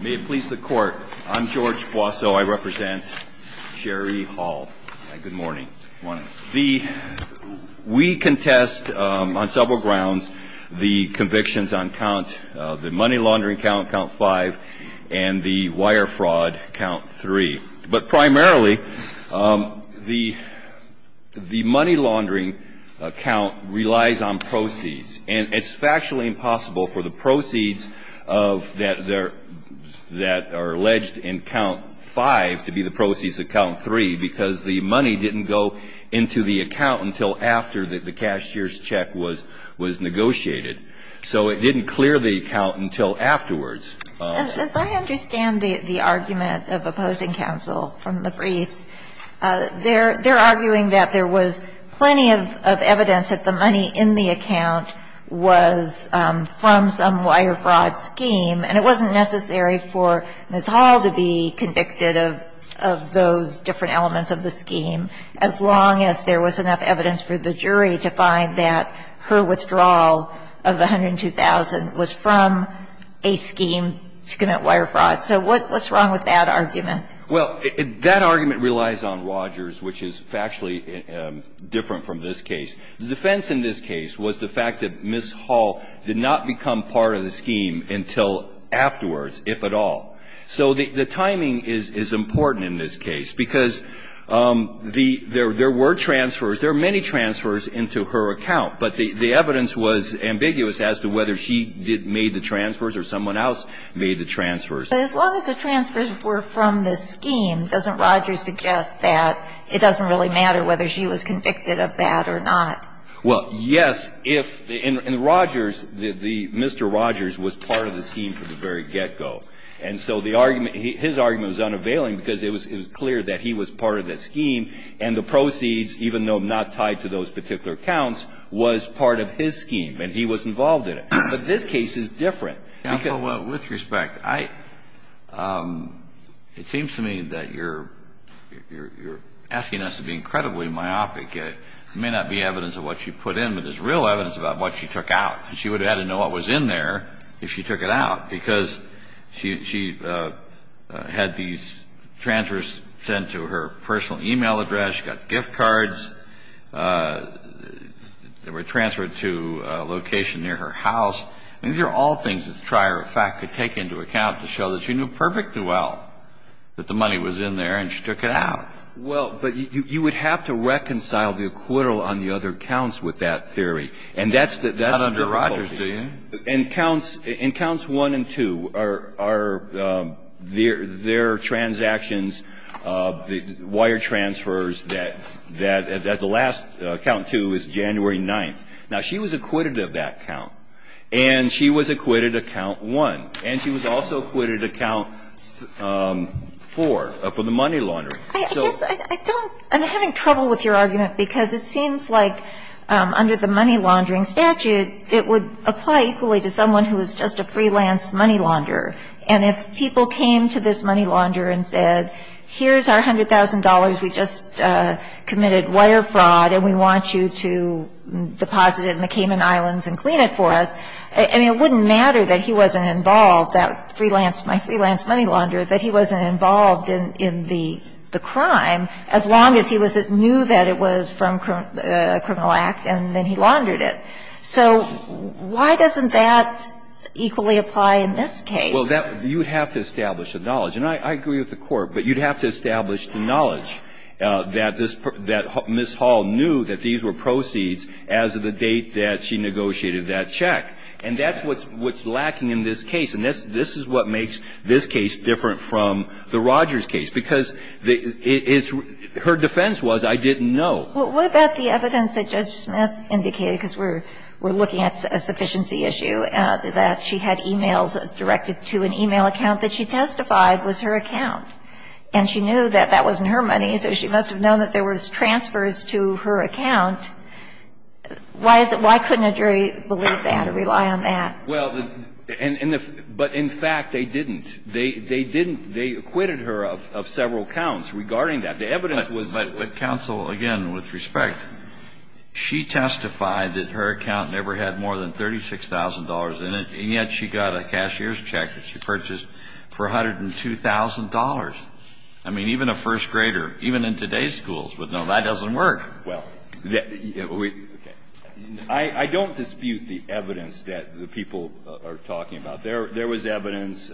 May it please the Court, I'm George Boisseau. I represent Sharee Hall. Good morning. We contest on several grounds the convictions on count the money laundering count, count five, and the wire fraud count three. But primarily the the money laundering account relies on proceeds and it's factually impossible for the that are alleged in count five to be the proceeds of count three because the money didn't go into the account until after the cashier's check was was negotiated. So it didn't clear the account until afterwards. As I understand the argument of opposing counsel from the briefs, they're arguing that there was plenty of evidence that the money in the account was from some wire fraud scheme and it wasn't necessary for Ms. Hall to be convicted of of those different elements of the scheme as long as there was enough evidence for the jury to find that her withdrawal of the $102,000 was from a scheme to commit wire fraud. So what what's wrong with that argument? Well, that argument relies on Rogers, which is factually different from this case. The defense in this case was the fact that Ms. Hall did not become part of the scheme until afterwards, if at all. So the timing is is important in this case because the there there were transfers, there are many transfers into her account, but the the evidence was ambiguous as to whether she did made the transfers or someone else made the transfers. But as long as the transfers were from the scheme, doesn't Rogers suggest that it doesn't really matter whether she was convicted of that or not? Well, yes, if the Rogers, the Mr. Rogers was part of the scheme from the very get-go. And so the argument, his argument was unavailing because it was clear that he was part of the scheme and the proceeds, even though not tied to those particular accounts, was part of his scheme and he was involved in it. But this case is different. Counsel, with respect, I it seems to me that you're you're asking us to be incredibly myopic. It may not be evidence of what she put in, but there's real evidence about what she took out. She would have had to know what was in there if she took it out because she had these transfers sent to her personal email address. She got gift cards that were transferred to a location near her house. And these are all things that the trier of fact could take into account to show that she knew perfectly well that the money was in there and she took it out. Well, but you would have to reconcile the acquittal on the other counts with that theory. And that's the that's not under Rogers, do you? And counts and counts one and two are their their transactions, the wire transfers that that at the last count, too, is January 9th. Now, she was acquitted of that count. And she was acquitted of count one. And she was also acquitted of count four for the money laundering. So I don't I'm having trouble with your argument because it seems like under the money laundering statute, it would apply equally to someone who is just a freelance money launder. And if people came to this money launder and said, here's our hundred thousand dollars, we just committed wire fraud and we want you to deposit it in the address, I mean, it wouldn't matter that he wasn't involved, that freelance my freelance money launderer, that he wasn't involved in the crime as long as he was it knew that it was from a criminal act and then he laundered it. So why doesn't that equally apply in this case? Well, that you would have to establish the knowledge. And I agree with the Court. But you'd have to establish the knowledge that this that Ms. Hall knew that these were proceeds as of the date that she negotiated that check. And that's what's lacking in this case. And this is what makes this case different from the Rogers case. Because it's her defense was, I didn't know. Well, what about the evidence that Judge Smith indicated, because we're looking at a sufficiency issue, that she had e-mails directed to an e-mail account that she testified was her account. And she knew that that wasn't her money, so she must have known that there was transfers to her account. Why is it why couldn't a jury believe that or rely on that? Well, but in fact, they didn't. They didn't. They acquitted her of several counts regarding that. The evidence was that. But counsel, again, with respect, she testified that her account never had more than $36,000 in it, and yet she got a cashier's check that she purchased for $102,000. I mean, even a first grader, even in today's schools would know that doesn't work. Well, I don't dispute the evidence that the people are talking about. There was evidence,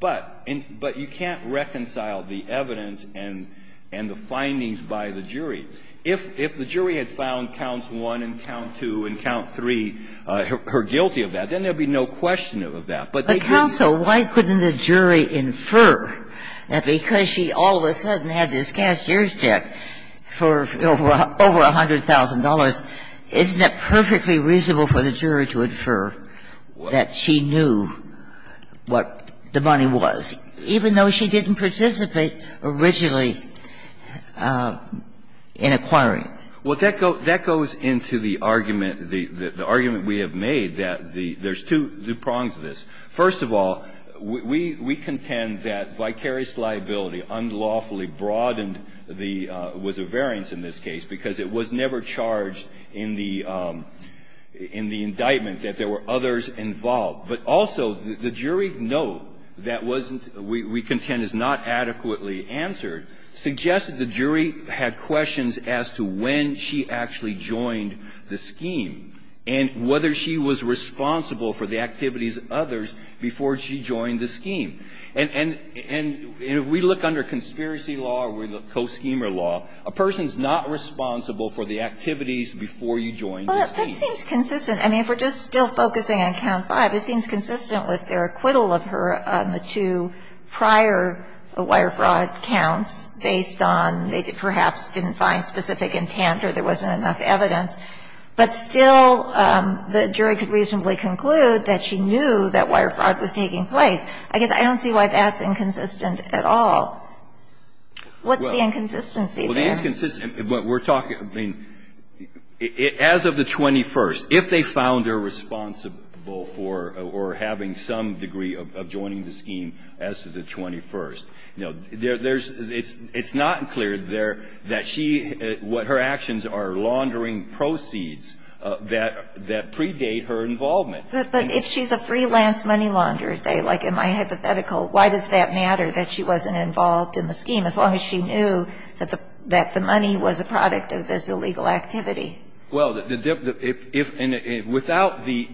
but you can't reconcile the evidence and the findings by the jury. If the jury had found Counts 1 and Count 2 and Count 3 her guilty of that, then there would be no question of that. But they didn't. And so why couldn't the jury infer that because she all of a sudden had this cashier's check for over $100,000, isn't it perfectly reasonable for the jury to infer that she knew what the money was, even though she didn't participate originally in acquiring it? Well, that goes into the argument, the argument we have made that there's two prongs of this. First of all, we contend that vicarious liability unlawfully broadened the was a variance in this case because it was never charged in the indictment that there were others involved. But also the jury note that wasn't, we contend is not adequately answered, suggested the jury had questions as to when she actually joined the scheme and whether she was responsible for the activities of others before she joined the scheme. And if we look under conspiracy law or we look at co-schemer law, a person is not responsible for the activities before you joined the scheme. Well, that seems consistent. I mean, if we're just still focusing on Count 5, it seems consistent with their acquittal of her on the two prior wire fraud counts based on they perhaps didn't find specific intent or there wasn't enough evidence. But still, the jury could reasonably conclude that she knew that wire fraud was taking place. I guess I don't see why that's inconsistent at all. What's the inconsistency there? Well, the inconsistency, we're talking, I mean, as of the 21st, if they found her responsible for or having some degree of joining the scheme as of the 21st, you know, there's, it's not clear there that she, what her actions are laundering prosecutors proceeds that predate her involvement. But if she's a freelance money launderer, say, like in my hypothetical, why does that matter that she wasn't involved in the scheme, as long as she knew that the money was a product of this illegal activity? Well, if, and without the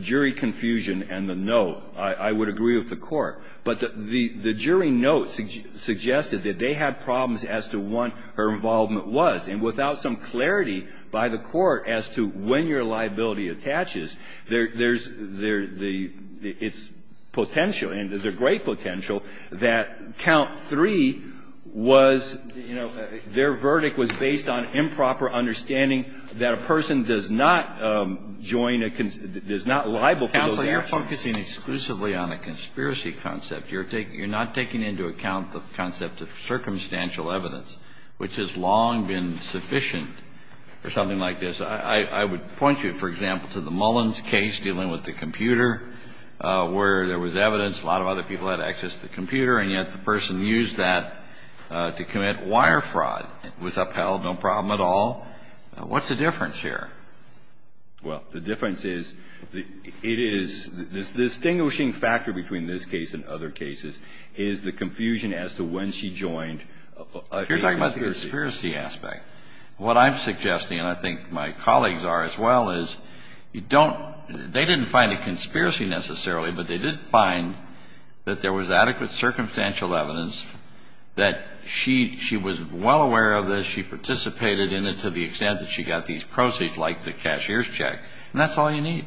jury confusion and the note, I would agree with the Court. But the jury note suggested that they had problems as to what her involvement was. And without some clarity by the Court as to when your liability attaches, there's the, it's potential, and there's a great potential, that count three was, you know, their verdict was based on improper understanding that a person does not join a, does not libel for those actions. Counsel, you're focusing exclusively on a conspiracy concept. You're taking, you're not taking into account the concept of circumstantial evidence, which has long been sufficient for something like this. I would point you, for example, to the Mullins case, dealing with the computer, where there was evidence, a lot of other people had access to the computer, and yet the person used that to commit wire fraud, was upheld, no problem at all. What's the difference here? Well, the difference is, it is, the distinguishing factor between this case and other cases is the confusion as to when she joined a conspiracy. You're talking about the conspiracy aspect. What I'm suggesting, and I think my colleagues are as well, is you don't, they didn't find a conspiracy necessarily, but they did find that there was adequate circumstantial evidence that she, she was well aware of this, she participated in it to the extent that she got these proceeds like the cashier's check, and that's all you need.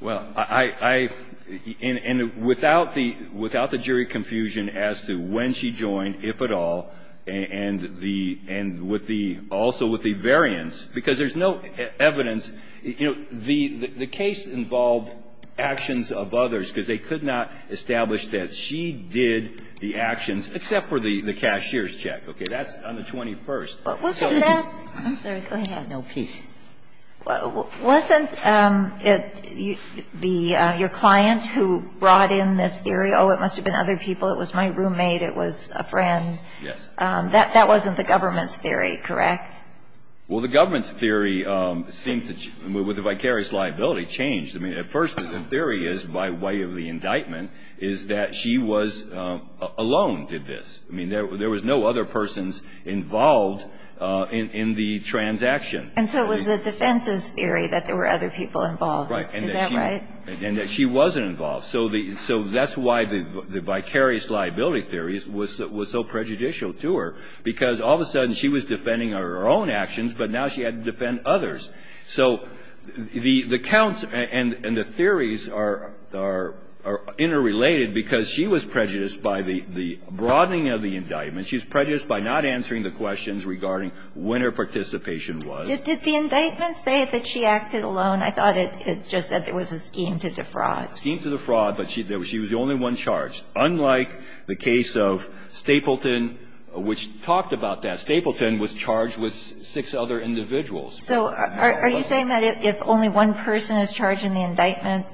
Well, I, I, and without the, without the jury confusion as to when she joined, if at all, and the, and with the, also with the variance, because there's no evidence, you know, the, the case involved actions of others, because they could not establish that she did the actions, except for the cashier's check, okay, that's on the 21st. Wasn't that? I'm sorry, go ahead. No, please. Wasn't it the, your client who brought in this theory, oh, it must have been other people, it was my roommate, it was a friend? Yes. That, that wasn't the government's theory, correct? Well, the government's theory seemed to, with the vicarious liability, changed. I mean, at first, the theory is, by way of the indictment, is that she was alone, did this. I mean, there, there was no other persons involved in, in the transaction. And so, it was the defense's theory that there were other people involved. Right. Is that right? And that she wasn't involved. So the, so that's why the, the vicarious liability theories was, was so prejudicial to her, because all of a sudden, she was defending her own actions, but now she had to defend others. So, the, the counts and, and the theories are, are, are interrelated, because she was not, she was not involved in any of the, in any of the, in any of the, in any of the indictments. She was prejudiced by not answering the questions regarding when her participation was. Did, did the indictment say that she acted alone? I thought it, it just said there was a scheme to defraud. Scheme to defraud, but she, there was, she was the only one charged. Unlike the case of Stapleton, which talked about that, Stapleton was charged with six other individuals. So, are, are you saying that if, if only one person is charged in the indictment,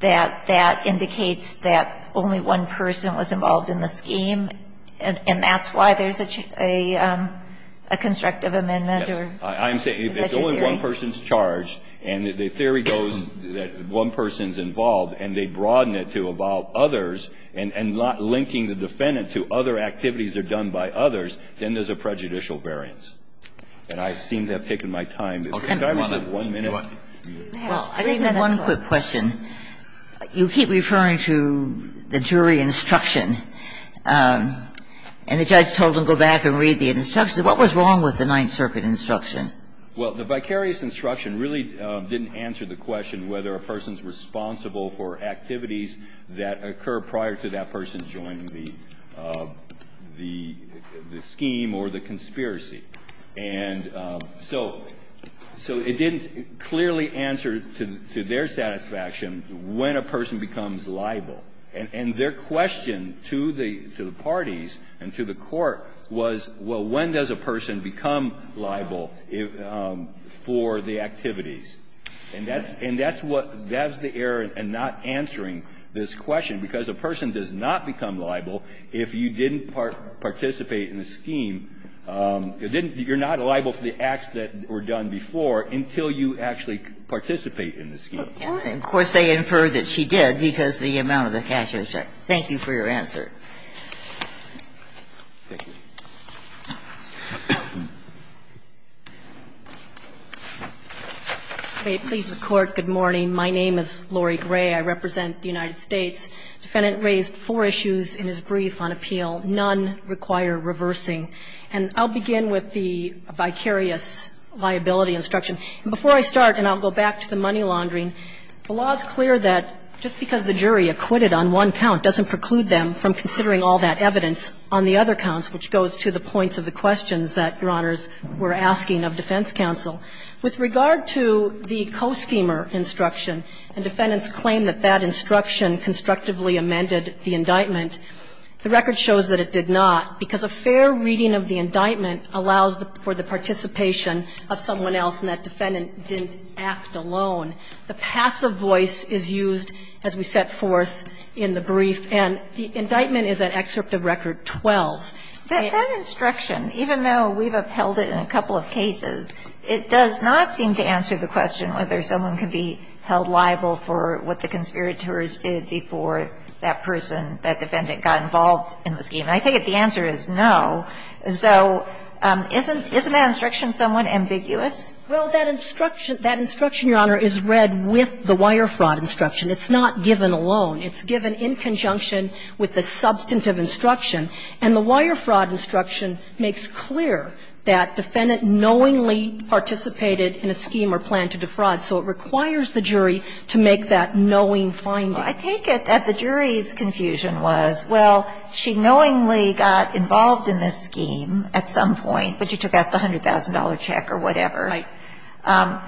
that, that indicates that only one person was involved in the scheme, and, and that's why there's a, a, a constructive amendment, or is that your theory? Yes. I'm saying if only one person's charged, and the theory goes that one person's involved, and they broaden it to involve others, and, and not linking the defendant to other activities that are done by others, then there's a prejudicial variance. And I seem to have taken my time. Can I just have one minute? Well, I just have one quick question. You keep referring to the jury instruction, and the judge told him go back and read the instruction. What was wrong with the Ninth Circuit instruction? Well, the vicarious instruction really didn't answer the question whether a person is responsible for activities that occur prior to that person joining the, the, the scheme or the conspiracy. And so, so it didn't clearly answer to, to their satisfaction when a person becomes liable. And, and their question to the, to the parties and to the court was, well, when does a person become liable for the activities? And that's, and that's what, that's the error in not answering this question, because a person does not become liable if you didn't participate in the scheme. It didn't, you're not liable for the acts that were done before until you actually participate in the scheme. And of course, they infer that she did because the amount of the cash was checked. Thank you for your answer. Thank you. May it please the Court, good morning. My name is Lori Gray. I represent the United States. The defendant raised four issues in his brief on appeal. None require reversing. And I'll begin with the vicarious liability instruction. Before I start, and I'll go back to the money laundering, the law is clear that just because the jury acquitted on one count doesn't preclude them from considering all that evidence on the other counts, which goes to the points of the questions that, Your Honors, we're asking of defense counsel. With regard to the co-schemer instruction, and defendants claim that that instruction constructively amended the indictment, the record shows that it did not, because a fair reading of the indictment allows for the participation of someone else, and that defendant didn't act alone. The passive voice is used as we set forth in the brief, and the indictment is at excerpt of record 12. That instruction, even though we've upheld it in a couple of cases, it does not seem to answer the question whether someone can be held liable for what the conspirators did before that person, that defendant, got involved in the scheme. And I take it the answer is no. So isn't that instruction somewhat ambiguous? Well, that instruction, Your Honor, is read with the wire fraud instruction. It's not given alone. It's given in conjunction with the substantive instruction. And the wire fraud instruction makes clear that defendant knowingly participated in a scheme or plan to defraud. So it requires the jury to make that knowing finding. Well, I take it that the jury's confusion was, well, she knowingly got involved in this scheme at some point, but she took out the $100,000 check or whatever. Right.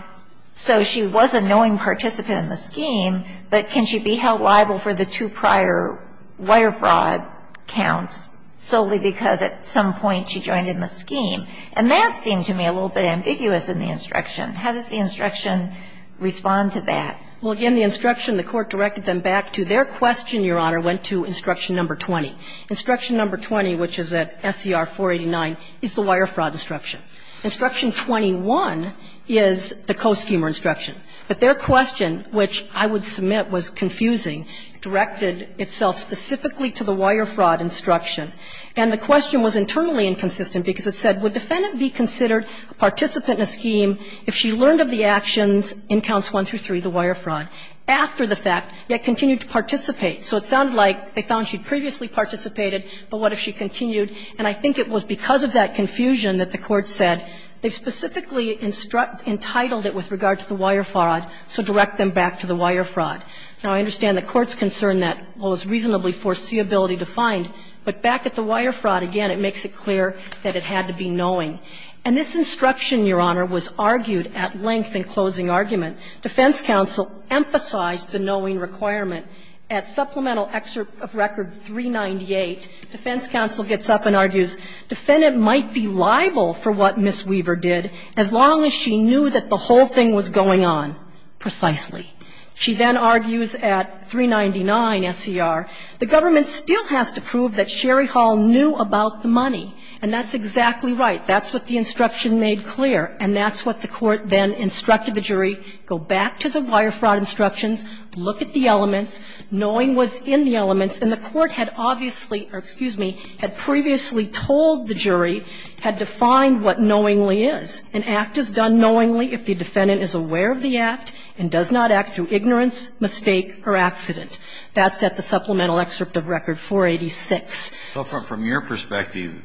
So she was a knowing participant in the scheme, but can she be held liable for the two prior wire fraud counts solely because at some point she joined in the scheme? And that seemed to me a little bit ambiguous in the instruction. How does the instruction respond to that? Well, again, the instruction, the Court directed them back to their question, Your Honor, went to instruction number 20. Instruction number 20, which is at SCR 489, is the wire fraud instruction. Instruction 21 is the co-scheme or instruction. But their question, which I would submit was confusing, directed itself specifically to the wire fraud instruction. And the question was internally inconsistent because it said, would defendant be considered a participant in a scheme if she learned of the actions in counts 1 through 3, the wire fraud, after the fact, yet continued to participate? So it sounded like they found she'd previously participated, but what if she continued? And I think it was because of that confusion that the Court said, they specifically entitled it with regard to the wire fraud, so direct them back to the wire fraud. Now, I understand the Court's concern that, well, it's reasonably foreseeability defined, but back at the wire fraud, again, it makes it clear that it had to be knowing. And this instruction, Your Honor, was argued at length in closing argument. Defense counsel emphasized the knowing requirement. At supplemental excerpt of record 398, defense counsel gets up and argues, defendant might be liable for what Ms. Weaver did as long as she knew that the whole thing was going on precisely. She then argues at 399 SCR, the government still has to prove that Sherry Hall knew about the money, and that's exactly right. That's what the instruction made clear, and that's what the Court then instructed the jury, go back to the wire fraud instructions, look at the elements, knowing was in the elements, and the Court had obviously or, excuse me, had previously told the jury, had defined what knowingly is. An act is done knowingly if the defendant is aware of the act and does not act through ignorance, mistake or accident. That's at the supplemental excerpt of record 486. Kennedy. From your perspective,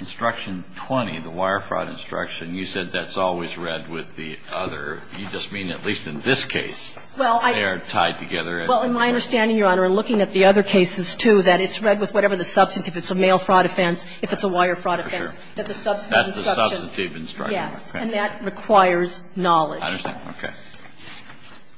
instruction 20, the wire fraud instruction, you said that's always read with the other. You just mean at least in this case, they are tied together. Well, in my understanding, Your Honor, and looking at the other cases, too, that it's read with whatever the substantive, if it's a mail fraud offense, if it's a wire fraud offense, that the substantive instruction is, yes. And that requires knowledge. I understand. Okay.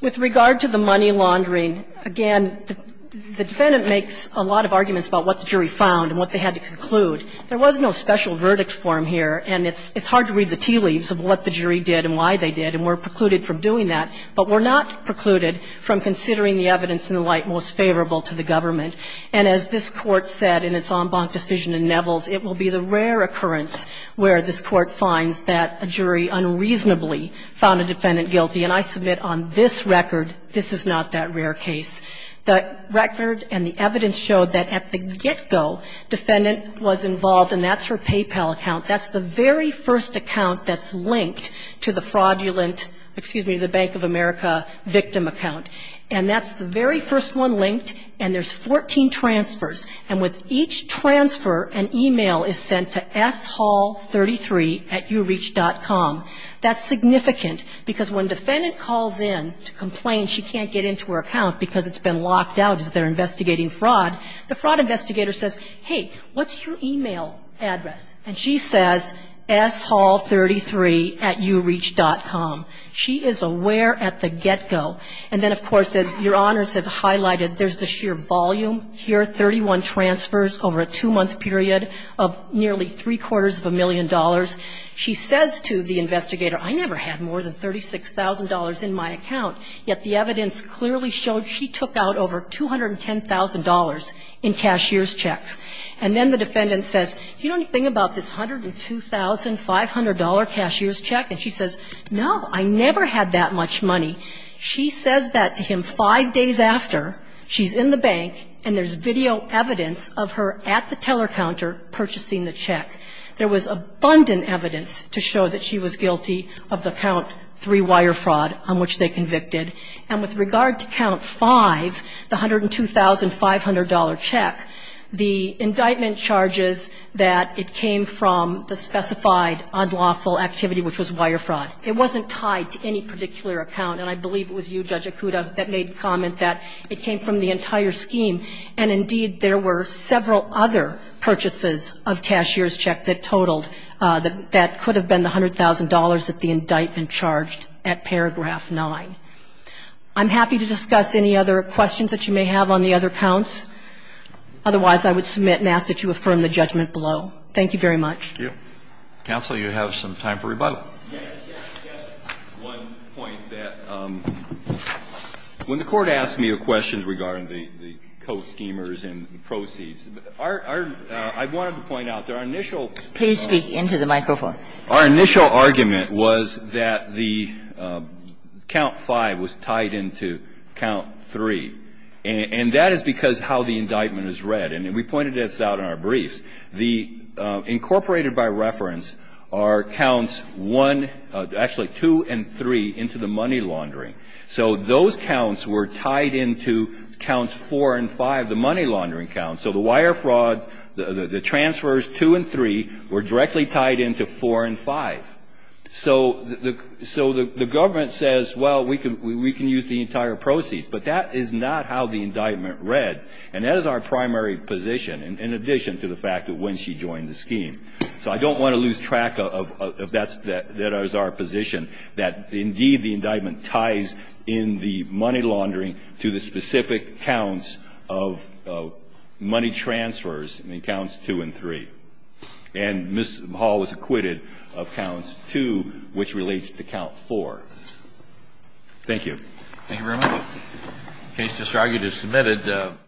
With regard to the money laundering, again, the defendant makes a lot of arguments about what the jury found and what they had to conclude. There was no special verdict form here, and it's hard to read the tea leaves of what the jury did and why they did, and we're precluded from doing that. But we're not precluded from considering the evidence in the light most favorable to the government. And as this Court said in its en banc decision in Neville's, it will be the rare occurrence where this Court finds that a jury unreasonably found a defendant guilty, and I submit on this record, this is not that rare case. The record and the evidence show that at the get-go, defendant was involved, and that's her PayPal account. That's the very first account that's linked to the fraudulent, excuse me, the Bank of America victim account. And that's the very first one linked, and there's 14 transfers. And with each transfer, an e-mail is sent to shall33 at uReach.com. That's significant, because when defendant calls in to complain, she can't get into her account because it's been locked out as they're investigating fraud. The fraud investigator says, hey, what's your e-mail address? And she says, shall33 at uReach.com. She is aware at the get-go. And then, of course, as Your Honors have highlighted, there's the sheer volume here, 31 transfers over a two-month period of nearly three-quarters of a million dollars. She says to the investigator, I never had more than $36,000 in my account, yet the evidence clearly showed she took out over $210,000 in cashier's checks. And then the defendant says, you don't think about this $102,500 cashier's check? And she says, no, I never had that much money. She says that to him five days after she's in the bank, and there's video evidence of her at the teller counter purchasing the check. There was abundant evidence to show that she was guilty of the count three-wire fraud on which they convicted. And with regard to count five, the $102,500 check, the indictment charges that it came from the specified unlawful activity, which was wire fraud. It wasn't tied to any particular account. And I believe it was you, Judge Acuda, that made the comment that it came from the entire scheme. And indeed, there were several other purchases of cashier's check that totaled that could have been the $100,000 that the indictment charged at paragraph 9. I'm happy to discuss any other questions that you may have on the other counts. Otherwise, I would submit and ask that you affirm the judgment below. Thank you very much. Roberts. Thank you. Counsel, you have some time for rebuttal. Yes, yes, yes. One point that when the Court asked me a question regarding the co-schemers and the proceeds, our – I wanted to point out that our initial – Please speak into the microphone. Our initial argument was that the count 5 was tied into count 3. And that is because how the indictment is read. And we pointed this out in our briefs. The incorporated by reference are counts 1 – actually, 2 and 3 into the money laundering. So those counts were tied into counts 4 and 5, the money laundering count. So the wire fraud – the transfers 2 and 3 were directly tied into 4 and 5. So the government says, well, we can use the entire proceeds. But that is not how the indictment read. And that is our primary position, in addition to the fact that when she joined the scheme. So I don't want to lose track of that's – that is our position, that indeed, the indictment ties in the money laundering to the specific counts of money transfers in counts 2 and 3. And Ms. Hall was acquitted of counts 2, which relates to count 4. Thank you. Thank you very much. The case is now submitted.